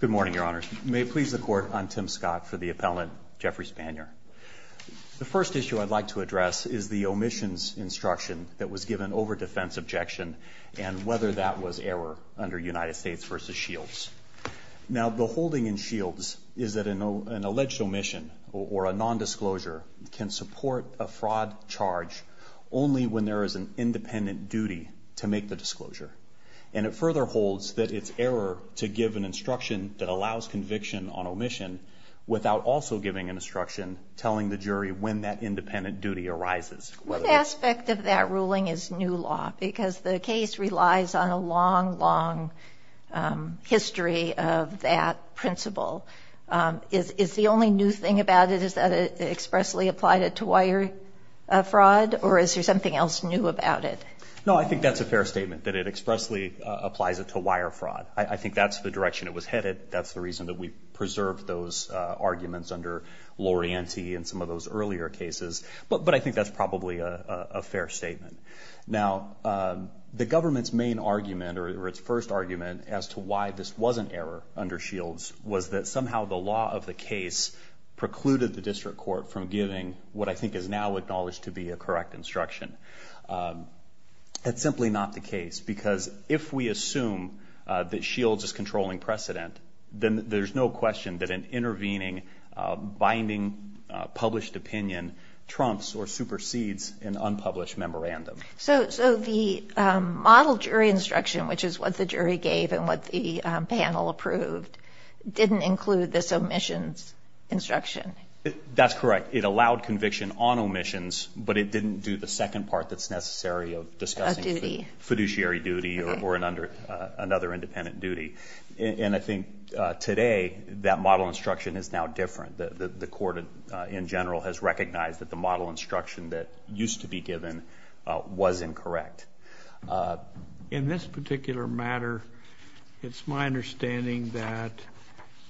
Good morning, Your Honors. May it please the Court, I'm Tim Scott for the appellant Jeffrey Spanier. The first issue I'd like to address is the omissions instruction that was given over defense objection and whether that was error under United States v. Shields. Now, the holding in Shields is that an alleged omission or a nondisclosure can support a fraud charge only when there is an independent duty to make the disclosure. And it further holds that it's error to give an instruction that allows conviction on omission without also giving an instruction telling the jury when that independent duty arises. One aspect of that ruling is new law because the case relies on a long, long history of that principle. Is the only new thing about it is that it expressly applied it to wire fraud or is there something else new about it? No, I think that's a fair statement that it expressly applies it to wire fraud. I think that's the direction it was headed. That's the reason that we preserved those arguments under Lorienty and some of those earlier cases. But I think that's probably a fair statement. Now, the government's main argument or its first argument as to why this wasn't error under Shields was that somehow the law of the case precluded the district court from giving what I think is now acknowledged to be a correct instruction. That's simply not the case because if we assume that Shields is controlling precedent, then there's no question that an intervening, binding, published opinion trumps or supersedes an unpublished memorandum. So the model jury instruction, which is what the jury gave and what the panel approved, didn't include this omissions instruction? That's correct. It allowed conviction on omissions, but it didn't do the second part that's necessary of discussing fiduciary duty or another independent duty. And I think today that model instruction is now different. The court in general has recognized that the model instruction that used to be given was incorrect. In this particular matter, it's my understanding that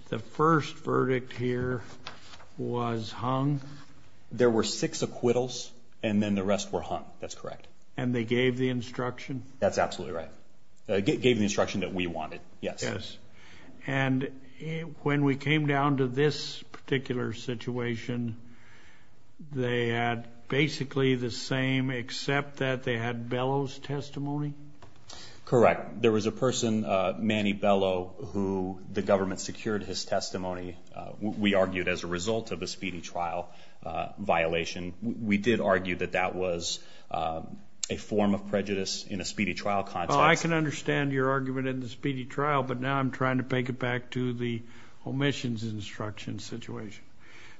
the first verdict here was hung. There were six acquittals, and then the rest were hung. That's correct. And they gave the instruction? That's absolutely right. They gave the instruction that we wanted. Yes. And when we came down to this particular situation, they had basically the same except that they had Bellow's testimony? Correct. There was a person, Manny Bellow, who the government secured his testimony, we argued, as a result of the speedy trial violation. We did argue that that was a form of prejudice in a speedy trial context. Well, I can understand your argument in the speedy trial, but now I'm trying to bake it back to the omissions instruction situation.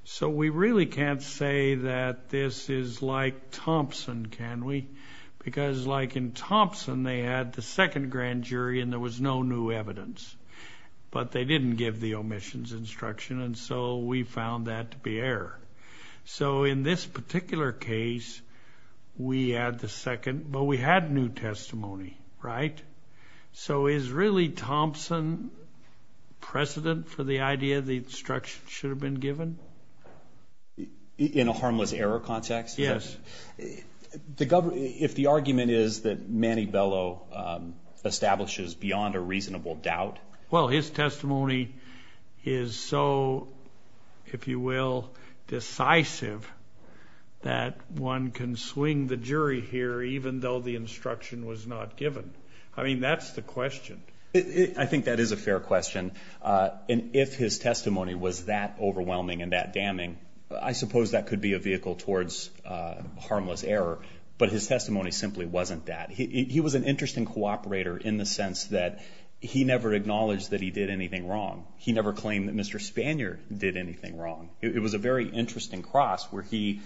So we really can't say that this is like Thompson, can we? Because like in Thompson, they had the second grand jury and there was no new evidence. But they didn't give the omissions instruction, and so we found that to be error. So in this particular case, we had the second, but we had new testimony, right? So is really Thompson precedent for the idea the instruction should have been given? In a harmless error context? Yes. If the argument is that Manny Bellow establishes beyond a reasonable doubt? Well, his testimony is so, if you will, decisive, that one can swing the jury here even though the instruction was not given. I mean, that's the question. I think that is a fair question. And if his testimony was that overwhelming and that damning, I suppose that could be a vehicle towards harmless error. But his testimony simply wasn't that. He was an interesting cooperator in the sense that he never acknowledged that he did anything wrong. He never claimed that Mr. Spanier did anything wrong. It was a very interesting cross where he,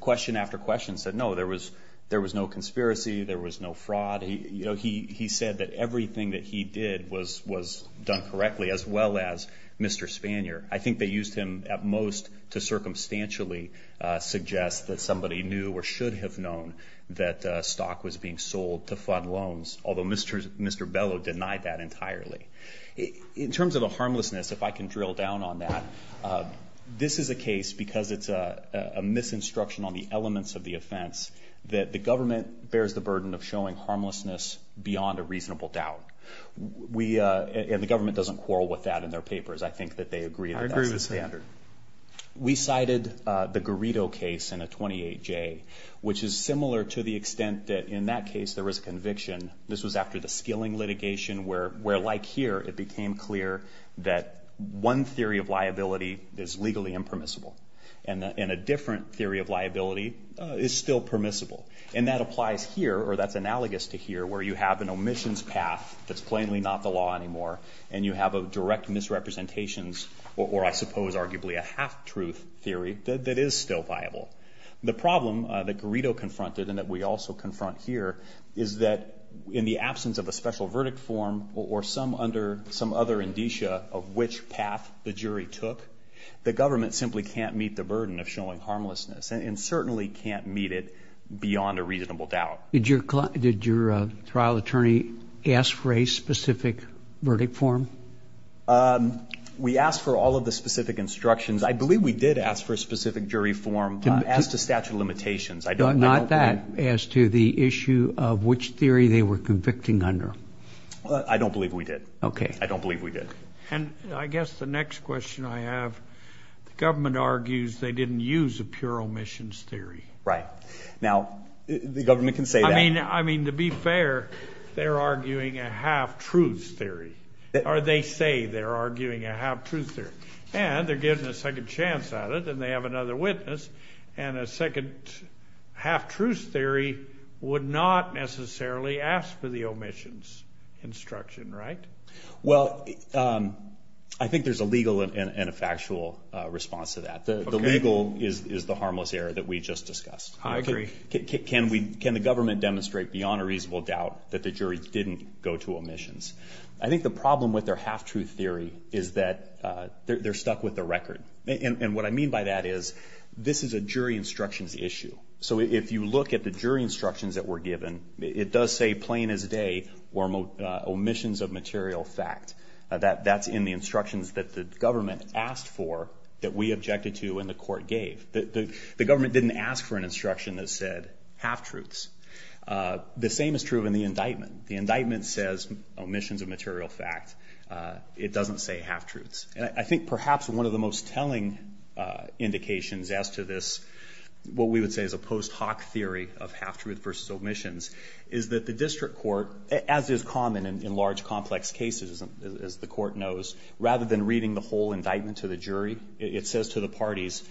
question after question, said, no, there was no conspiracy. There was no fraud. He said that everything that he did was done correctly as well as Mr. Spanier. I think they used him at most to circumstantially suggest that somebody knew or should have known that stock was being sold to fund loans, although Mr. Bellow denied that entirely. In terms of the harmlessness, if I can drill down on that, this is a case, because it's a misinstruction on the elements of the offense, that the government bears the burden of showing harmlessness beyond a reasonable doubt. And the government doesn't quarrel with that in their papers. I think that they agree that that's the standard. I agree with that. We cited the Garrido case in a 28J, which is similar to the extent that in that case there was a conviction. This was after the skilling litigation where, like here, it became clear that one theory of liability is legally impermissible, and a different theory of liability is still permissible. And that applies here, or that's analogous to here, where you have an omissions path that's plainly not the law anymore, and you have a direct misrepresentations, or I suppose arguably a half-truth theory, that is still viable. The problem that Garrido confronted, and that we also confront here, is that in the absence of a special verdict form, or some other indicia of which path the jury took, the government simply can't meet the burden of showing harmlessness, and certainly can't meet it beyond a reasonable doubt. Did your trial attorney ask for a specific verdict form? We asked for all of the specific instructions. I believe we did ask for a specific jury form as to statute of limitations. Not that, as to the issue of which theory they were convicting under. I don't believe we did. Okay. I don't believe we did. And I guess the next question I have, the government argues they didn't use a pure omissions theory. Right. Now, the government can say that. I mean, to be fair, they're arguing a half-truth theory, or they say they're arguing a half-truth theory. And they're giving a second chance at it, and they have another witness. And a second half-truth theory would not necessarily ask for the omissions instruction, right? Well, I think there's a legal and a factual response to that. The legal is the harmless error that we just discussed. I agree. Can the government demonstrate beyond a reasonable doubt that the jury didn't go to omissions? I think the problem with their half-truth theory is that they're stuck with the record. And what I mean by that is this is a jury instructions issue. So if you look at the jury instructions that were given, it does say plain as day, omissions of material fact. That's in the instructions that the government asked for that we objected to and the court gave. The government didn't ask for an instruction that said half-truths. The same is true in the indictment. The indictment says omissions of material fact. It doesn't say half-truths. And I think perhaps one of the most telling indications as to this, what we would say is a post hoc theory of half-truths versus omissions, is that the district court, as is common in large, complex cases, as the court knows, rather than reading the whole indictment to the jury, it says to the parties,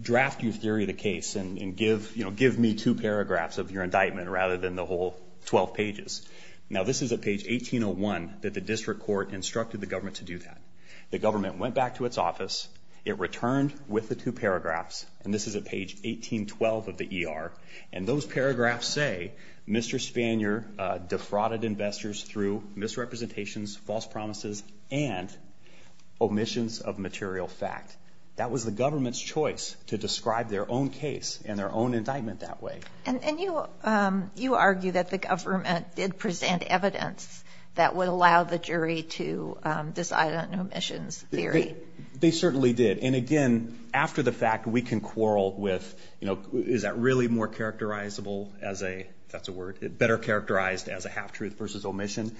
draft your theory of the case and give me two paragraphs of your indictment rather than the whole 12 pages. Now, this is at page 1801 that the district court instructed the government to do that. The government went back to its office. It returned with the two paragraphs, and this is at page 1812 of the ER, and those paragraphs say Mr. Spanier defrauded investors through misrepresentations, false promises, and omissions of material fact. That was the government's choice to describe their own case and their own indictment that way. And you argue that the government did present evidence that would allow the jury to decide on omissions theory. They certainly did. And, again, after the fact, we can quarrel with, you know, is that really more characterizable as a, that's a word, better characterized as a half-truth versus omission.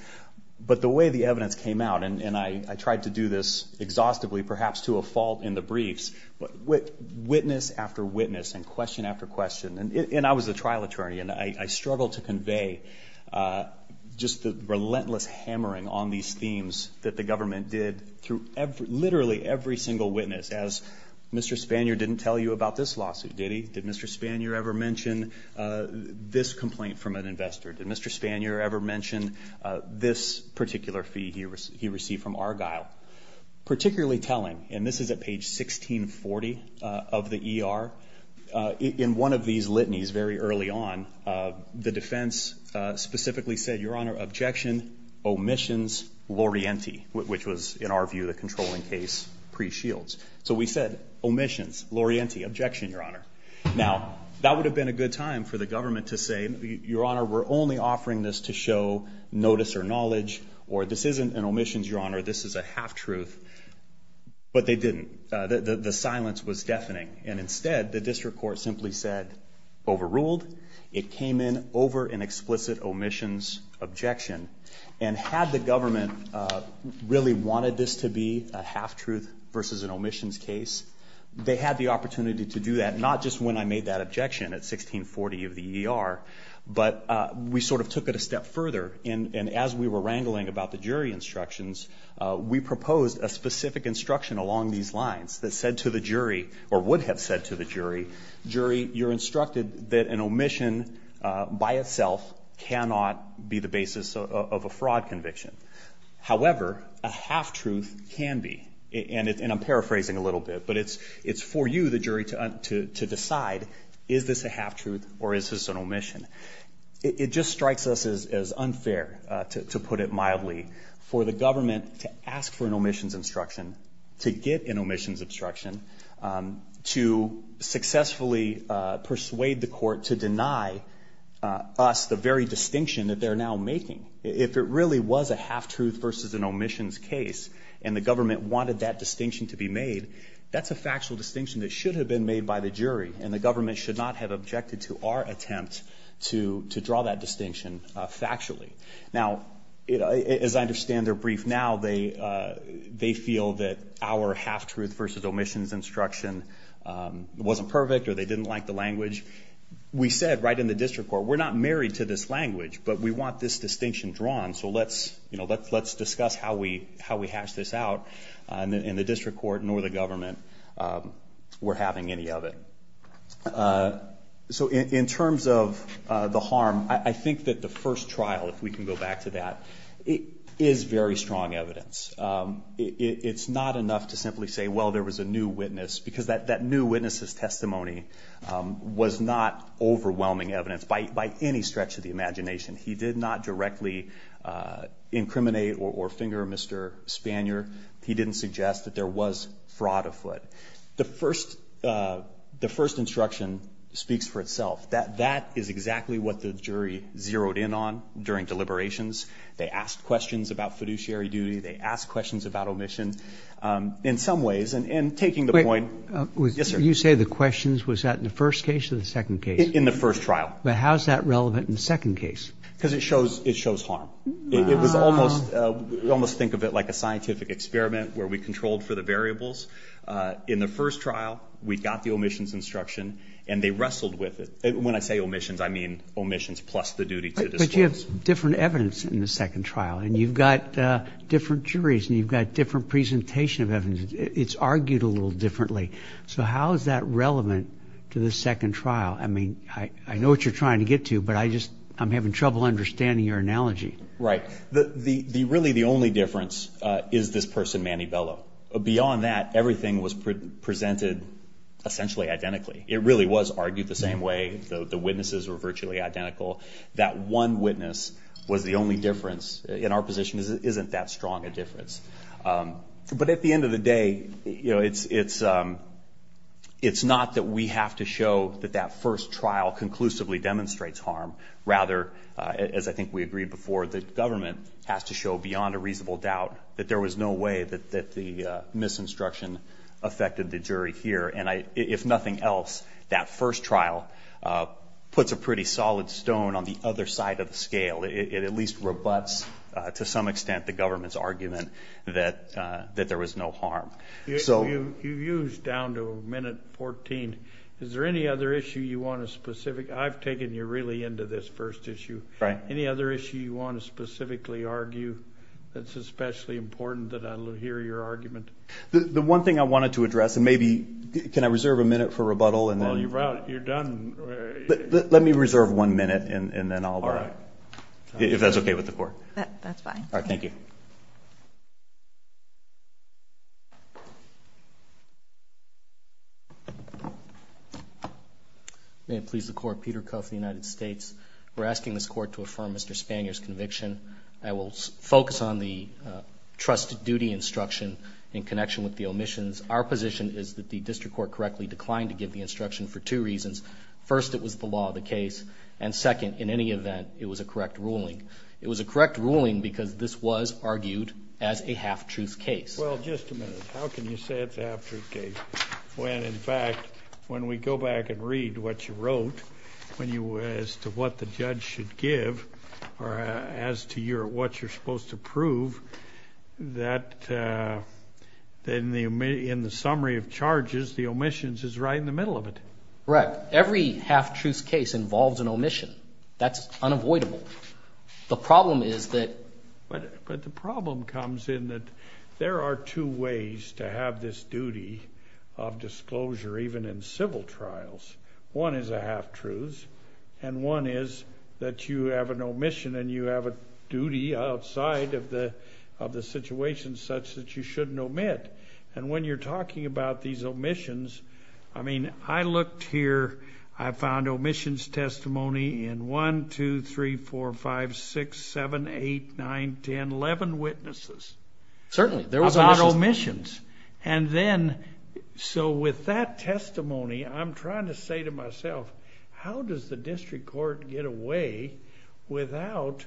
But the way the evidence came out, and I tried to do this exhaustively, perhaps to a fault in the briefs, but witness after witness and question after question, and I was a trial attorney, and I struggled to convey just the relentless hammering on these themes that the government did through literally every single witness as Mr. Spanier didn't tell you about this lawsuit, did he? Did Mr. Spanier ever mention this complaint from an investor? Did Mr. Spanier ever mention this particular fee he received from Argyle? Particularly telling, and this is at page 1640 of the ER, in one of these litanies very early on, the defense specifically said, Your Honor, objection, omissions, l'orienti, which was, in our view, the controlling case pre-Shields. So we said omissions, l'orienti, objection, Your Honor. Now, that would have been a good time for the government to say, Your Honor, we're only offering this to show notice or knowledge, or this isn't an omissions, Your Honor, this is a half-truth. But they didn't. The silence was deafening. And instead, the district court simply said, overruled. It came in over an explicit omissions objection. And had the government really wanted this to be a half-truth versus an omissions case, they had the opportunity to do that, not just when I made that objection at 1640 of the ER, but we sort of took it a step further. And as we were wrangling about the jury instructions, we proposed a specific instruction along these lines that said to the jury, or would have said to the jury, Jury, you're instructed that an omission by itself cannot be the basis of a fraud conviction. However, a half-truth can be. And I'm paraphrasing a little bit, but it's for you, the jury, to decide, is this a half-truth or is this an omission? It just strikes us as unfair, to put it mildly, for the government to ask for an omissions instruction, to get an omissions instruction, to successfully persuade the court to deny us the very distinction that they're now making. If it really was a half-truth versus an omissions case and the government wanted that distinction to be made, that's a factual distinction that should have been made by the jury, and the government should not have objected to our attempt to draw that distinction factually. Now, as I understand their brief now, they feel that our half-truth versus omissions instruction wasn't perfect or they didn't like the language. We said right in the district court, we're not married to this language, but we want this distinction drawn, so let's discuss how we hash this out, and the district court nor the government were having any of it. So in terms of the harm, I think that the first trial, if we can go back to that, is very strong evidence. It's not enough to simply say, well, there was a new witness, because that new witness's testimony was not overwhelming evidence by any stretch of the imagination. He did not directly incriminate or finger Mr. Spanier. He didn't suggest that there was fraud afoot. The first instruction speaks for itself. That is exactly what the jury zeroed in on during deliberations. They asked questions about fiduciary duty. They asked questions about omission in some ways, and taking the point. Wait. Yes, sir. You say the questions. Was that in the first case or the second case? In the first trial. But how is that relevant in the second case? Because it shows harm. It was almost, we almost think of it like a scientific experiment where we controlled for the variables. In the first trial, we got the omissions instruction, and they wrestled with it. When I say omissions, I mean omissions plus the duty to disclose. But you have different evidence in the second trial, and you've got different juries and you've got different presentation of evidence. It's argued a little differently. So how is that relevant to the second trial? I mean, I know what you're trying to get to, but I'm having trouble understanding your analogy. Right. Really, the only difference is this person, Manny Bellow. Beyond that, everything was presented essentially identically. It really was argued the same way. The witnesses were virtually identical. That one witness was the only difference. In our position, it isn't that strong a difference. But at the end of the day, it's not that we have to show that that first trial conclusively demonstrates harm. Rather, as I think we agreed before, the government has to show beyond a reasonable doubt that there was no way that the misinstruction affected the jury here. And if nothing else, that first trial puts a pretty solid stone on the other side of the scale. It at least rebuts to some extent the government's argument that there was no harm. You've used down to a minute 14. Is there any other issue you want to specific? I've taken you really into this first issue. Any other issue you want to specifically argue that's especially important that I hear your argument? The one thing I wanted to address, and maybe can I reserve a minute for rebuttal? While you're out, you're done. Let me reserve one minute, and then I'll go. All right. If that's okay with the court. That's fine. All right. Thank you. May it please the Court. Peter Cuff of the United States. We're asking this Court to affirm Mr. Spanier's conviction. I will focus on the trusted duty instruction in connection with the omissions. Our position is that the district court correctly declined to give the instruction for two reasons. First, it was the law of the case. And second, in any event, it was a correct ruling. It was a correct ruling because this was argued as a half-truth case. Well, just a minute. How can you say it's a half-truth case when, in fact, when we go back and read what you wrote, as to what the judge should give or as to what you're supposed to prove, that in the summary of charges, the omissions is right in the middle of it? Correct. Every half-truth case involves an omission. That's unavoidable. The problem is that... But the problem comes in that there are two ways to have this duty of disclosure, even in civil trials. One is a half-truth, and one is that you have an omission, and you have a duty outside of the situation such that you shouldn't omit. And when you're talking about these omissions, I mean, I looked here. I found omissions testimony in 1, 2, 3, 4, 5, 6, 7, 8, 9, 10, 11 witnesses. Certainly. About omissions. And then, so with that testimony, I'm trying to say to myself, how does the district court get away without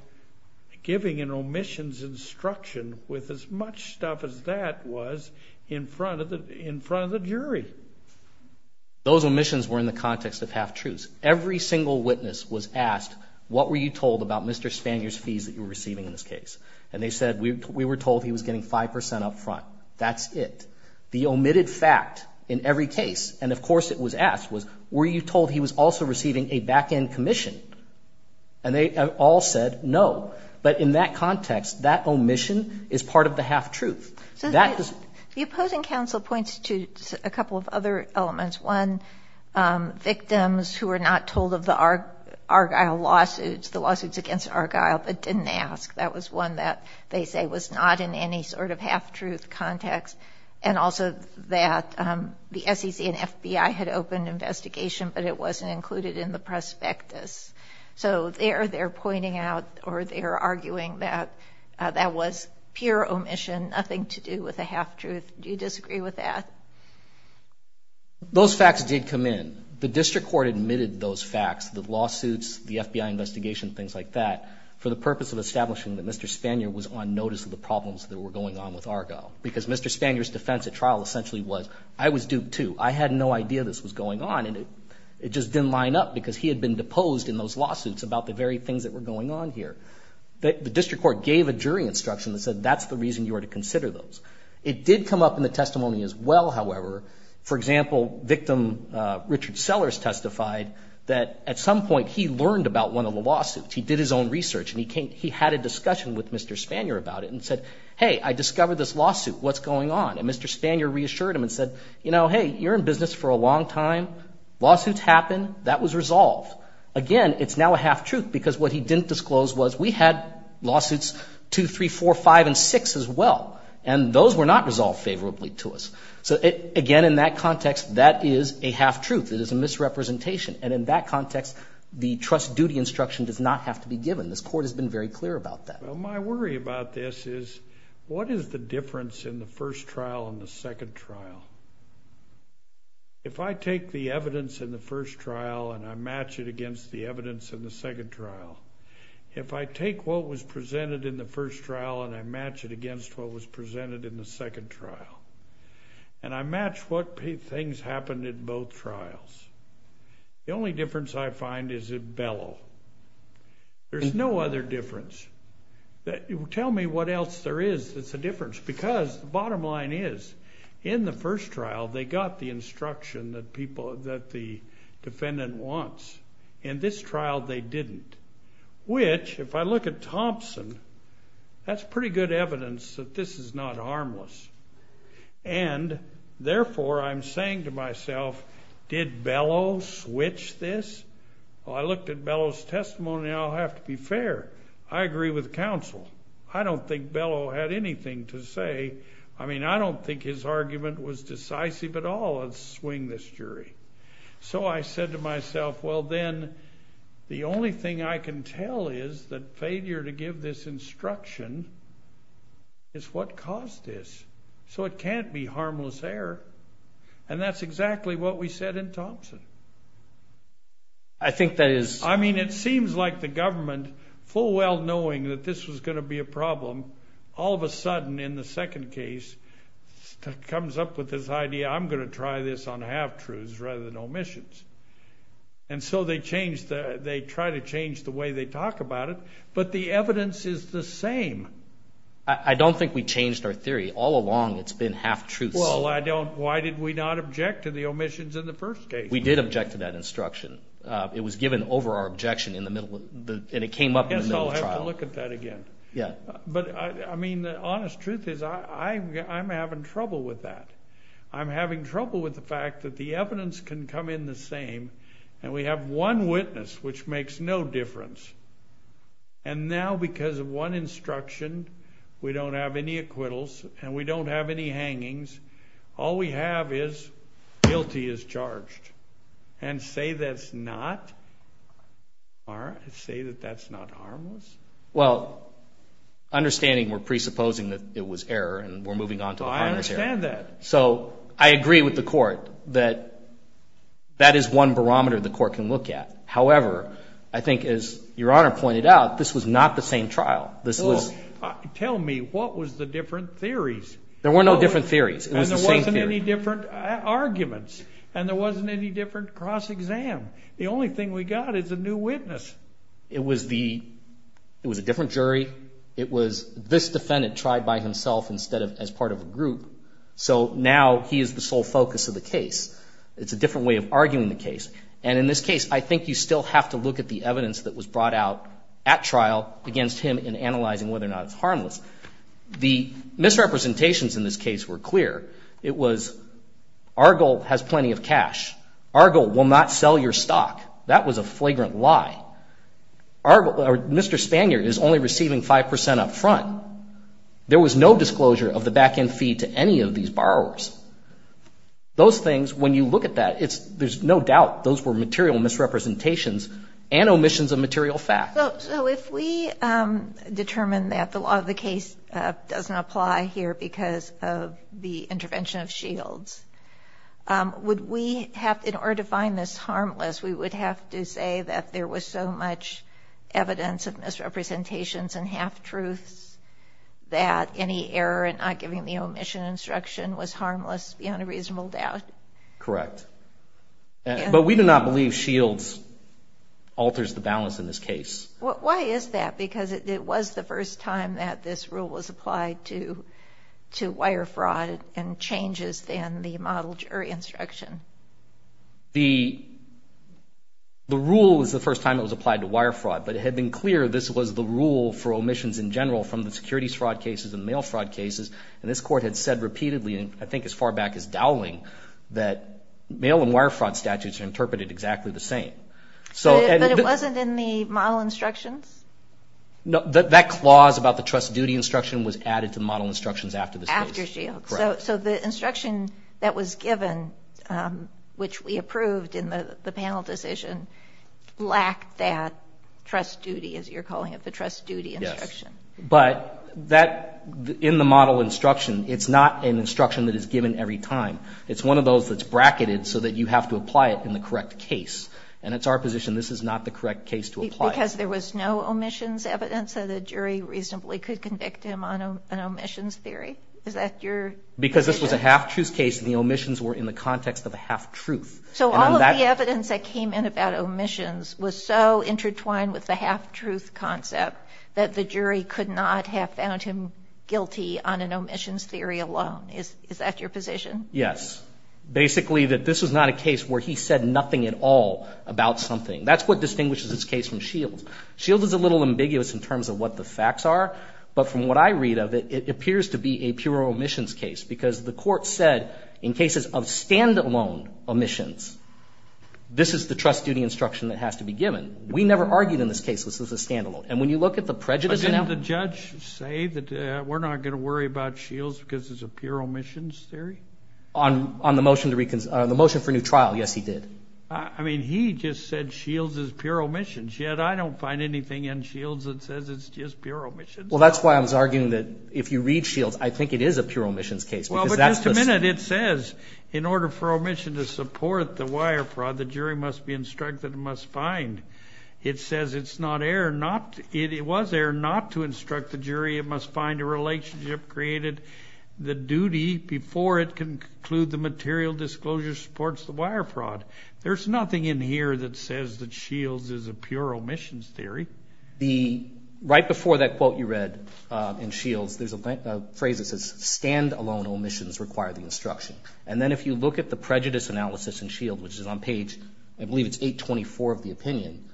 giving an omissions instruction with as much stuff as that was in front of the jury? Those omissions were in the context of half-truths. Every single witness was asked, what were you told about Mr. Spanier's fees that you were receiving in this case? And they said, we were told he was getting 5% up front. That's it. The omitted fact in every case, and of course it was asked, was were you told he was also receiving a back-end commission? And they all said no. But in that context, that omission is part of the half-truth. So that is the opposing counsel points to a couple of other elements. One, victims who were not told of the Argyle lawsuits, the lawsuits against Argyle, but didn't ask. That was one that they say was not in any sort of half-truth context. And also that the SEC and FBI had opened an investigation, but it wasn't included in the prospectus. So there they're pointing out or they're arguing that that was pure omission, nothing to do with a half-truth. Do you disagree with that? Those facts did come in. The district court admitted those facts, the lawsuits, the FBI investigation, things like that, for the purpose of establishing that Mr. Spanier was on notice of the problems that were going on with Argyle. Because Mr. Spanier's defense at trial essentially was, I was duped too. I had no idea this was going on, and it just didn't line up because he had been deposed in those lawsuits about the very things that were going on here. The district court gave a jury instruction that said that's the reason you are to consider those. It did come up in the testimony as well, however. For example, victim Richard Sellers testified that at some point he learned about one of the lawsuits. He did his own research, and he had a discussion with Mr. Spanier about it and said, hey, I discovered this lawsuit. What's going on? And Mr. Spanier reassured him and said, you know, hey, you're in business for a long time. Lawsuits happen. That was resolved. Again, it's now a half-truth because what he didn't disclose was we had lawsuits 2, 3, 4, 5, and 6 as well, and those were not resolved favorably to us. So, again, in that context, that is a half-truth. It is a misrepresentation. And in that context, the trust duty instruction does not have to be given. This court has been very clear about that. My worry about this is what is the difference in the first trial and the second trial? If I take the evidence in the first trial and I match it against the evidence in the second trial, if I take what was presented in the first trial and I match it against what was presented in the second trial, and I match what things happened in both trials, the only difference I find is it bellow. There's no other difference. Tell me what else there is that's a difference because the bottom line is, in the first trial, they got the instruction that the defendant wants. In this trial, they didn't, which, if I look at Thompson, that's pretty good evidence that this is not harmless. And, therefore, I'm saying to myself, did Bellow switch this? Well, I looked at Bellow's testimony, and I'll have to be fair. I agree with counsel. I don't think Bellow had anything to say. I mean, I don't think his argument was decisive at all. Let's swing this jury. So I said to myself, well, then, the only thing I can tell is that failure to give this instruction is what caused this. So it can't be harmless error. And that's exactly what we said in Thompson. I mean, it seems like the government, full well knowing that this was going to be a problem, all of a sudden, in the second case, comes up with this idea, I'm going to try this on half-truths rather than omissions. And so they try to change the way they talk about it, but the evidence is the same. I don't think we changed our theory. All along, it's been half-truths. Well, why did we not object to the omissions in the first case? We did object to that instruction. It was given over our objection, and it came up in the middle of trial. I guess I'll have to look at that again. Yeah. But, I mean, the honest truth is I'm having trouble with that. I'm having trouble with the fact that the evidence can come in the same, and we have one witness, which makes no difference. And now, because of one instruction, we don't have any acquittals, and we don't have any hangings. All we have is guilty as charged. And say that's not harmless? Well, understanding we're presupposing that it was error, and we're moving on to the harmless error. I understand that. So I agree with the court that that is one barometer the court can look at. However, I think, as Your Honor pointed out, this was not the same trial. Tell me, what was the different theories? There were no different theories. It was the same theory. And there wasn't any different arguments, and there wasn't any different cross-exam. The only thing we got is a new witness. It was a different jury. It was this defendant tried by himself instead of as part of a group. So now he is the sole focus of the case. It's a different way of arguing the case. And in this case, I think you still have to look at the evidence that was brought out at trial against him in analyzing whether or not it's harmless. The misrepresentations in this case were clear. It was Argyle has plenty of cash. Argyle will not sell your stock. That was a flagrant lie. Mr. Spanier is only receiving 5% up front. There was no disclosure of the back-end fee to any of these borrowers. Those things, when you look at that, there's no doubt those were material misrepresentations and omissions of material facts. So if we determine that the law of the case doesn't apply here because of the intervention of Shields, would we have, in order to find this harmless, we would have to say that there was so much evidence of misrepresentations and half-truths that any error in not giving the omission instruction was harmless beyond a reasonable doubt? Correct. But we do not believe Shields alters the balance in this case. Why is that? Because it was the first time that this rule was applied to wire fraud and changes in the model jury instruction. The rule was the first time it was applied to wire fraud, but it had been clear this was the rule for omissions in general from the securities fraud cases and mail fraud cases, and this Court had said repeatedly, I think as far back as Dowling, that mail and wire fraud statutes are interpreted exactly the same. But it wasn't in the model instructions? No. That clause about the trust duty instruction was added to the model instructions after this case. After Shields. Correct. So the instruction that was given, which we approved in the panel decision, lacked that trust duty, as you're calling it, the trust duty instruction. Yes. But in the model instruction, it's not an instruction that is given every time. It's one of those that's bracketed so that you have to apply it in the correct case. And it's our position this is not the correct case to apply. Because there was no omissions evidence that a jury reasonably could convict him on an omissions theory? Is that your position? Because this was a half-truth case, and the omissions were in the context of a half-truth. So all of the evidence that came in about omissions was so intertwined with the half-truth concept that the jury could not have found him guilty on an omissions theory alone. Is that your position? Yes. Basically that this was not a case where he said nothing at all about something. That's what distinguishes this case from Shields. Shields is a little ambiguous in terms of what the facts are. But from what I read of it, it appears to be a pure omissions case, because the court said in cases of standalone omissions, this is the trust duty instruction that has to be given. We never argued in this case this was a standalone. And when you look at the prejudice now ---- But didn't the judge say that we're not going to worry about Shields because it's a pure omissions theory? On the motion for new trial, yes, he did. I mean, he just said Shields is pure omissions. Yet I don't find anything in Shields that says it's just pure omissions. Well, that's why I was arguing that if you read Shields, I think it is a pure omissions case. Well, but just a minute, it says in order for omission to support the wire fraud, the jury must be instructed and must find. It says it's not error not to ---- it was error not to instruct the jury. It must find a relationship created, the duty before it can conclude the material disclosure supports the wire fraud. There's nothing in here that says that Shields is a pure omissions theory. Right before that quote you read in Shields, there's a phrase that says, standalone omissions require the instruction. And then if you look at the prejudice analysis in Shields, which is on page, I believe it's 824 of the opinion,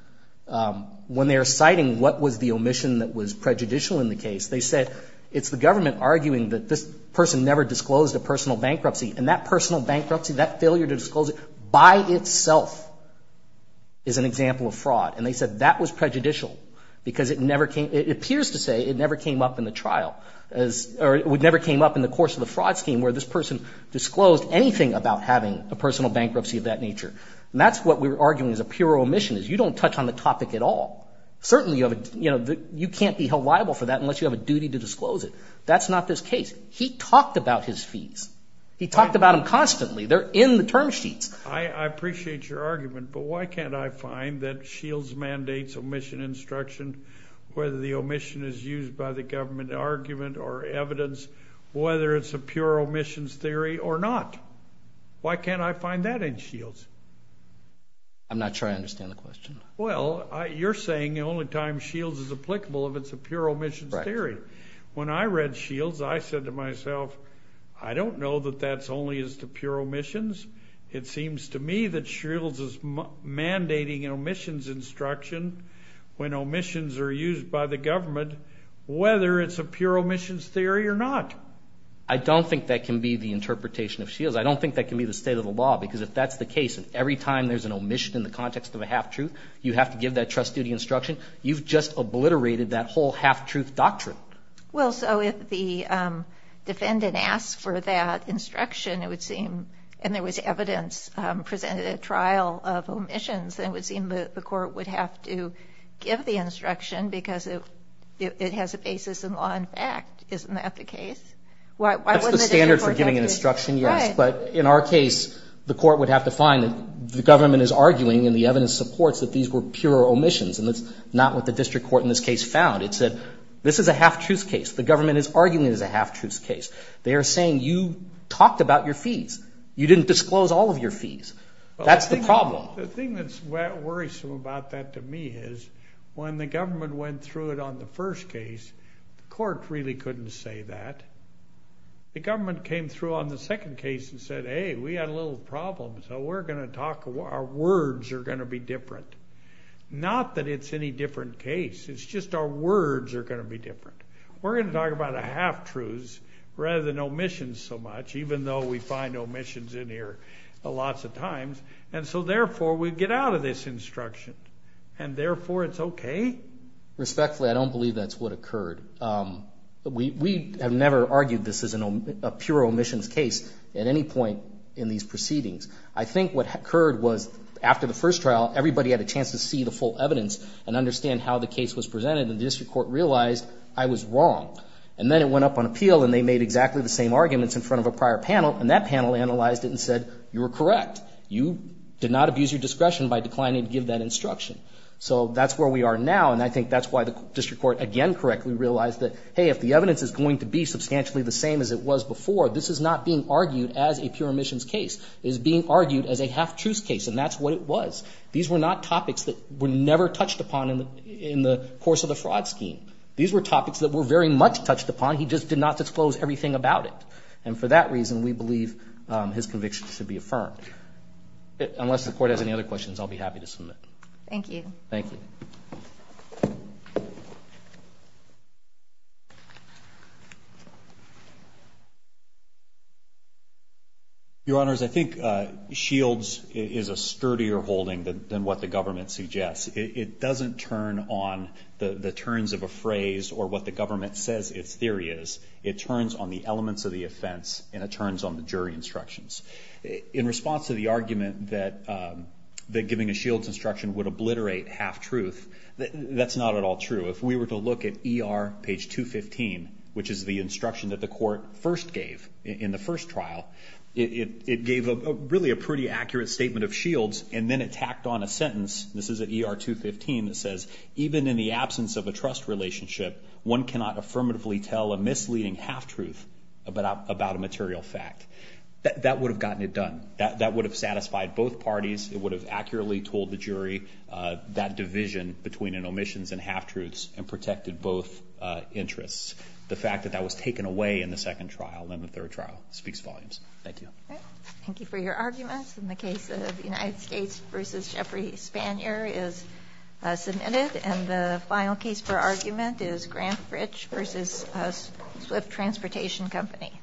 when they're citing what was the omission that was prejudicial in the case, they said it's the government arguing that this person never disclosed a personal bankruptcy, and that personal bankruptcy, that failure to disclose it by itself is an example of fraud. And they said that was prejudicial because it never came ---- it appears to say it never came up in the trial or it never came up in the course of the fraud scheme where this person disclosed anything about having a personal bankruptcy of that nature. And that's what we're arguing is a pure omission, is you don't touch on the topic at all. Certainly you can't be held liable for that unless you have a duty to disclose it. That's not this case. He talked about his fees. He talked about them constantly. They're in the term sheets. I appreciate your argument, but why can't I find that Shields mandates omission instruction, whether the omission is used by the government argument or evidence, whether it's a pure omissions theory or not? Why can't I find that in Shields? I'm not sure I understand the question. Well, you're saying the only time Shields is applicable if it's a pure omissions theory. When I read Shields, I said to myself, I don't know that that's only as to pure omissions. It seems to me that Shields is mandating omissions instruction when omissions are used by the government, whether it's a pure omissions theory or not. I don't think that can be the interpretation of Shields. I don't think that can be the state of the law, because if that's the case, and every time there's an omission in the context of a half-truth, you have to give that trust duty instruction, you've just obliterated that whole half-truth doctrine. Well, so if the defendant asks for that instruction, it would seem, and there was evidence presented at trial of omissions, then it would seem that the court would have to give the instruction because it has a basis in law and fact. Isn't that the case? That's the standard for giving an instruction, yes. But in our case, the court would have to find that the government is arguing and the evidence supports that these were pure omissions, and that's not what the district court in this case found. It said this is a half-truth case. The government is arguing it is a half-truth case. They are saying you talked about your fees. You didn't disclose all of your fees. That's the problem. The thing that's worrisome about that to me is when the government went through it on the first case, the court really couldn't say that. The government came through on the second case and said, hey, we had a little problem, so we're going to talk, our words are going to be different. Not that it's any different case. It's just our words are going to be different. We're going to talk about a half-truth rather than omissions so much, even though we find omissions in here lots of times, and so therefore we get out of this instruction, and therefore it's okay? Respectfully, I don't believe that's what occurred. We have never argued this as a pure omissions case at any point in these proceedings. I think what occurred was after the first trial, everybody had a chance to see the full evidence and understand how the case was presented, and the district court realized I was wrong. And then it went up on appeal, and they made exactly the same arguments in front of a prior panel, and that panel analyzed it and said, you were correct. You did not abuse your discretion by declining to give that instruction. So that's where we are now, and I think that's why the district court again correctly realized that, hey, if the evidence is going to be substantially the same as it was before, this is not being argued as a pure omissions case. It is being argued as a half-truth case, and that's what it was. These were not topics that were never touched upon in the course of the fraud scheme. These were topics that were very much touched upon. He just did not disclose everything about it, and for that reason we believe his conviction should be affirmed. Unless the court has any other questions, I'll be happy to submit. Thank you. Thank you. Your Honors, I think Shields is a sturdier holding than what the government suggests. It doesn't turn on the turns of a phrase or what the government says its theory is. It turns on the elements of the offense, and it turns on the jury instructions. In response to the argument that giving a Shields instruction would obliterate half-truth, that's not at all true. If we were to look at ER page 215, which is the instruction that the court first gave in the first trial, it gave really a pretty accurate statement of Shields, and then it tacked on a sentence. This is at ER 215. It says, even in the absence of a trust relationship, one cannot affirmatively tell a misleading half-truth about a material fact. That would have gotten it done. That would have satisfied both parties. It would have accurately told the jury that division between an omission and half-truths and protected both interests. The fact that that was taken away in the second trial and the third trial speaks volumes. Thank you. Thank you for your arguments. And the case of United States v. Jeffrey Spanier is submitted. And the final case for argument is Granfridge v. Swift Transportation Company.